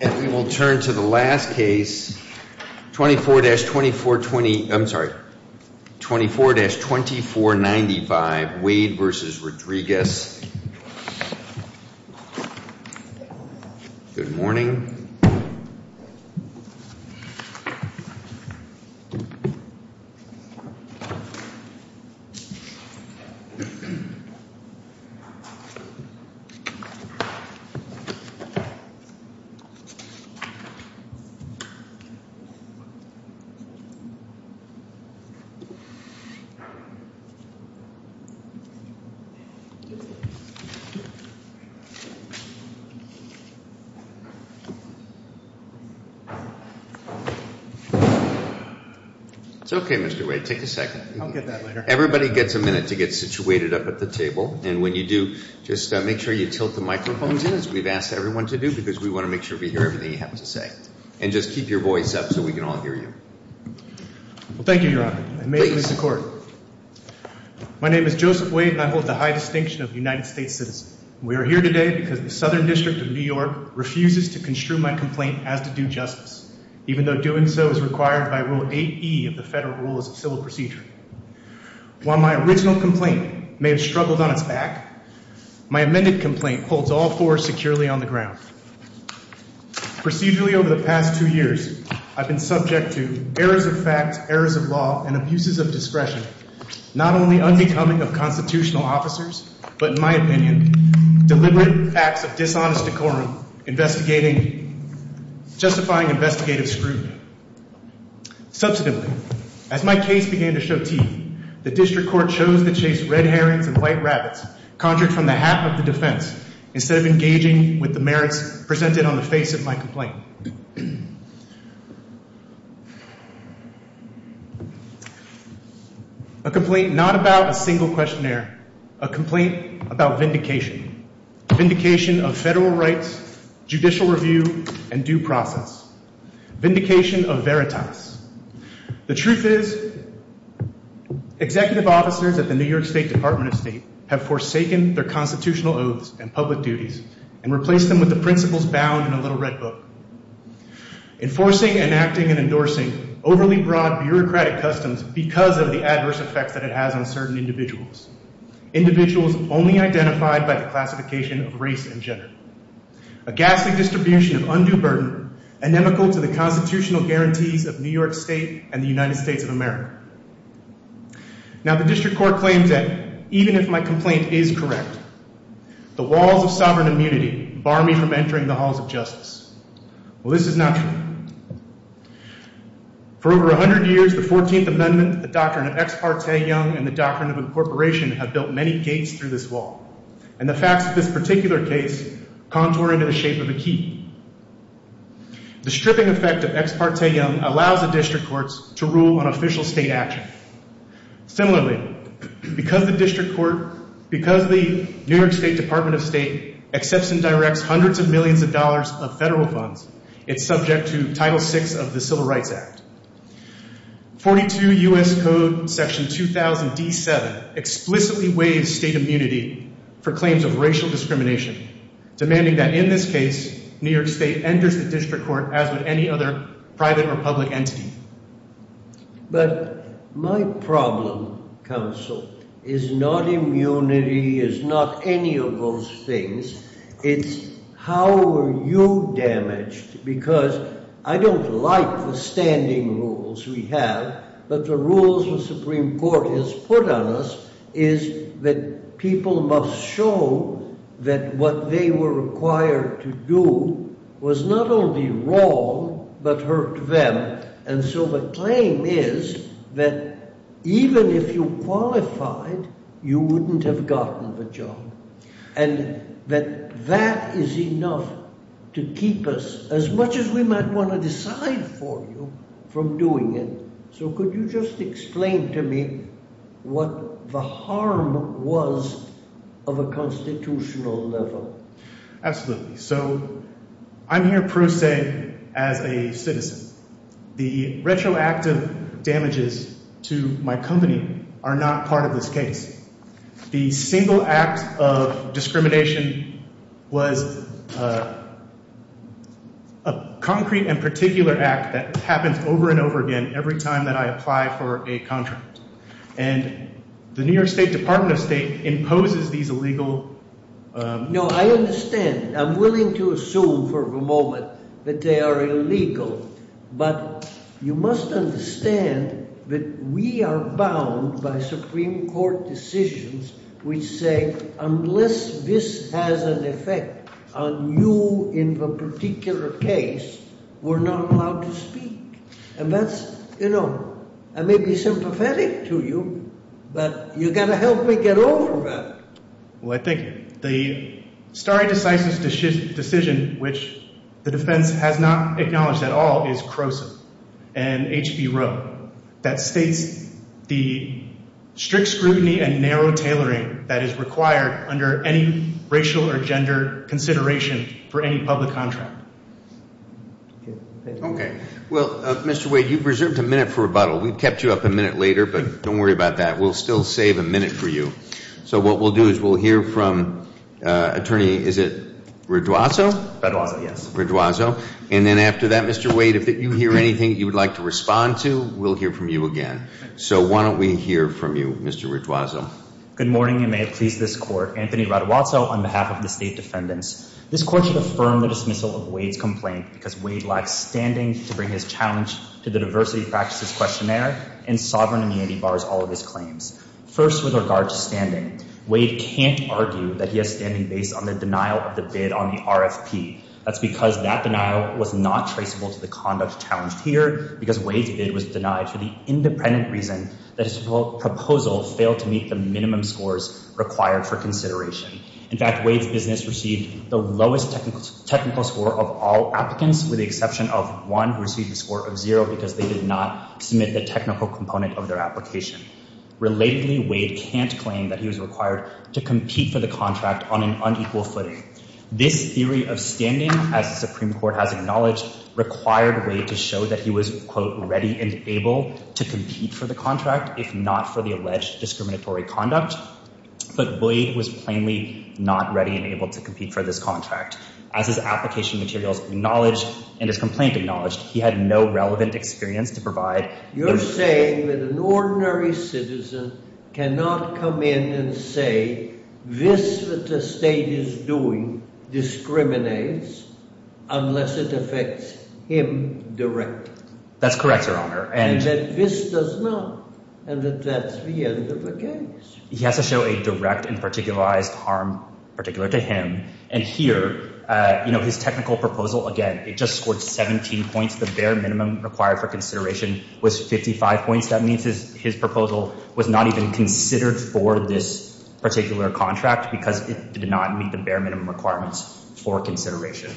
And we will turn to the last case, 24-2420, I'm sorry, 24-2495, Wade v. Rodriguez. Good morning. It's okay, Mr. Wade, take a second. I'll get that later. Everybody gets a minute to get situated up at the table. And when you do, just make sure you tilt the microphones in, as we've asked everyone to do, because we want to make sure we hear everything you have to say. And just keep your voice up so we can all hear you. Thank you, Your Honor. May it please the Court. My name is Joseph Wade, and I hold the high distinction of a United States citizen. We are here today because the Southern District of New York refuses to construe my complaint as to due justice, even though doing so is required by Rule 8e of the Federal Rules of Civil Procedure. While my original complaint may have struggled on its back, my amended complaint holds all four securely on the ground. Procedurally over the past two years, I've been subject to errors of fact, errors of law, and abuses of discretion, not only unbecoming of constitutional officers, but, in my opinion, deliberate acts of dishonest decorum, justifying investigative scrutiny. Subsequently, as my case began to show teeth, the District Court chose to chase red herrings and white rabbits, conjured from the hat of the defense, instead of engaging with the merits presented on the face of my complaint. A complaint not about a single questionnaire. A complaint about vindication. Vindication of federal rights, judicial review, and due process. Vindication of veritas. The truth is, executive officers at the New York State Department of State have forsaken their constitutional oaths and public duties and replaced them with the principles bound in a little red book. Enforcing, enacting, and endorsing overly broad bureaucratic customs because of the adverse effects that it has on certain individuals. Individuals only identified by the classification of race and gender. A ghastly distribution of undue burden, inimical to the constitutional guarantees of New York State and the United States of America. Now, the District Court claims that, even if my complaint is correct, the walls of sovereign immunity bar me from entering the halls of justice. Well, this is not true. For over 100 years, the 14th Amendment, the Doctrine of Ex Parte Young, and the Doctrine of Incorporation have built many gates through this wall. And the facts of this particular case contour into the shape of a key. The stripping effect of Ex Parte Young allows the District Courts to rule on official state action. Similarly, because the New York State Department of State accepts and directs hundreds of millions of dollars of federal funds, it's subject to Title VI of the Civil Rights Act. 42 U.S. Code Section 2000-D7 explicitly waives state immunity for claims of racial discrimination, demanding that, in this case, New York State enters the District Court as would any other private or public entity. But my problem, counsel, is not immunity, is not any of those things. It's how are you damaged? Because I don't like the standing rules we have, but the rules the Supreme Court has put on us is that people must show that what they were required to do was not only wrong, but hurt them. And so the claim is that, even if you qualified, you wouldn't have gotten the job. And that that is enough to keep us, as much as we might want to decide for you, from doing it. So could you just explain to me what the harm was of a constitutional level? Absolutely. So I'm here pro se as a citizen. The retroactive damages to my company are not part of this case. The single act of discrimination was a concrete and particular act that happens over and over again every time that I apply for a contract. And the New York State Department of State imposes these illegal… No, I understand. I'm willing to assume for the moment that they are illegal. But you must understand that we are bound by Supreme Court decisions which say, unless this has an effect on you in a particular case, we're not allowed to speak. And that's, you know, I may be sympathetic to you, but you've got to help me get over that. Well, I think the stare decisis decision, which the defense has not acknowledged at all, is CROSA and HB Roe. That states the strict scrutiny and narrow tailoring that is required under any racial or gender consideration for any public contract. Okay. Well, Mr. Wade, you've reserved a minute for rebuttal. We've kept you up a minute later, but don't worry about that. We'll still save a minute for you. So what we'll do is we'll hear from Attorney, is it Raduazzo? Raduazzo, yes. Raduazzo. And then after that, Mr. Wade, if you hear anything you would like to respond to, we'll hear from you again. So why don't we hear from you, Mr. Raduazzo. Good morning and may it please this Court. Anthony Raduazzo on behalf of the State Defendants. This Court should affirm the dismissal of Wade's complaint because Wade lacks standing to bring his challenge to the diversity practices questionnaire and sovereign immunity bars all of his claims. First, with regard to standing, Wade can't argue that he has standing based on the denial of the bid on the RFP. That's because that denial was not traceable to the conduct challenged here, because Wade's bid was denied for the independent reason that his proposal failed to meet the minimum scores required for consideration. In fact, Wade's business received the lowest technical score of all applicants, with the exception of one who received a score of zero because they did not submit the technical component of their application. Relatedly, Wade can't claim that he was required to compete for the contract on an unequal footing. This theory of standing, as the Supreme Court has acknowledged, required Wade to show that he was, quote, ready and able to compete for the contract, if not for the alleged discriminatory conduct. But Wade was plainly not ready and able to compete for this contract. As his application materials acknowledged and his complaint acknowledged, he had no relevant experience to provide. You're saying that an ordinary citizen cannot come in and say this that the state is doing discriminates unless it affects him directly. That's correct, Your Honor. And that this does not, and that that's the end of the case. He has to show a direct and particularized harm particular to him. And here, you know, his technical proposal, again, it just scored 17 points. The bare minimum required for consideration was 55 points. That means his proposal was not even considered for this particular contract because it did not meet the bare minimum requirements for consideration.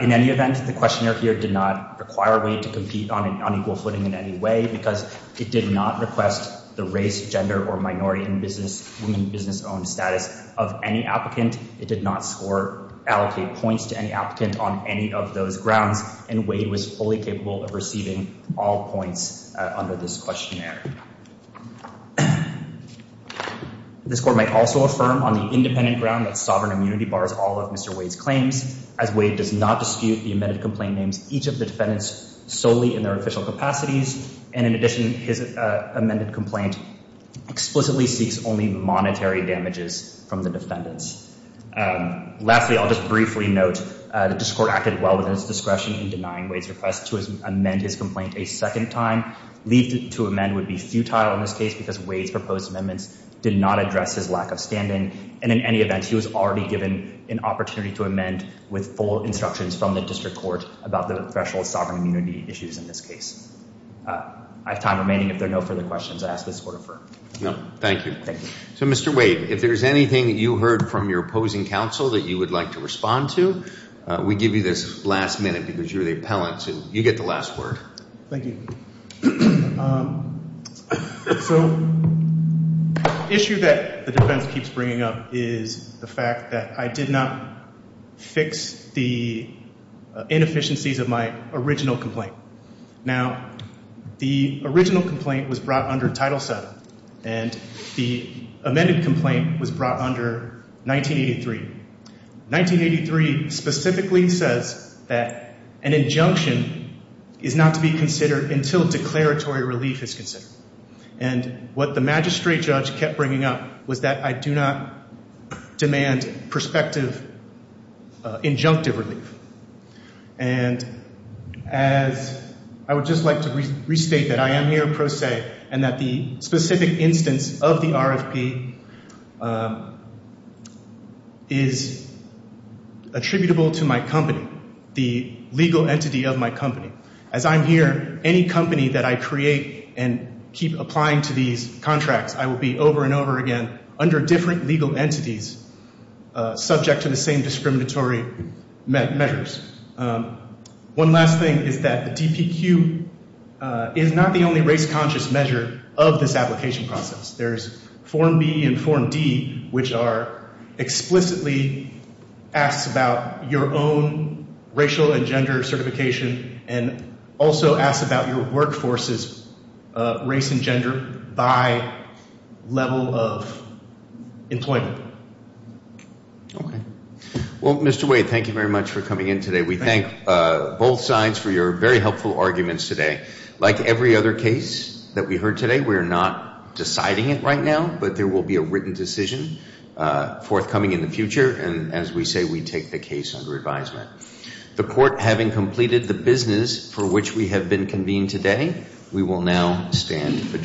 In any event, the questionnaire here did not require Wade to compete on an unequal footing in any way, because it did not request the race, gender, or minority in business, woman business-owned status of any applicant. It did not score, allocate points to any applicant on any of those grounds. And Wade was fully capable of receiving all points under this questionnaire. This court might also affirm on the independent ground that sovereign immunity bars all of Mr. Wade's claims, as Wade does not dispute the amended complaint names each of the defendants solely in their official capacities. And in addition, his amended complaint explicitly seeks only monetary damages from the defendants. Lastly, I'll just briefly note that this court acted well within its discretion in denying Wade's request to amend his complaint a second time, leaving it to amend would be futile in this case because Wade's proposed amendments did not address his lack of standing. And in any event, he was already given an opportunity to amend with full instructions from the district court about the threshold of sovereign immunity issues in this case. I have time remaining if there are no further questions. I ask this court to refer. Thank you. So, Mr. Wade, if there's anything that you heard from your opposing counsel that you would like to respond to, we give you this last minute because you're the appellant, so you get the last word. Thank you. So the issue that the defense keeps bringing up is the fact that I did not fix the inefficiencies of my original complaint. Now, the original complaint was brought under Title VII and the amended complaint was brought under 1983. 1983 specifically says that an injunction is not to be considered until declaratory relief is considered. And what the magistrate judge kept bringing up was that I do not demand prospective injunctive relief. And as I would just like to restate that I am here pro se and that the specific instance of the RFP is attributable to my company, the legal entity of my company. As I'm here, any company that I create and keep applying to these contracts, I will be over and over again under different legal entities subject to the same discriminatory measures. One last thing is that the DPQ is not the only race conscious measure of this application process. There's Form B and Form D, which are explicitly asks about your own racial and gender certification and also asks about your workforce's race and gender by level of employment. Okay. Well, Mr. Wade, thank you very much for coming in today. We thank both sides for your very helpful arguments today. Like every other case that we heard today, we are not deciding it right now, but there will be a written decision forthcoming in the future. And as we say, we take the case under advisement. The court having completed the business for which we have been convened today, we will now stand adjourned.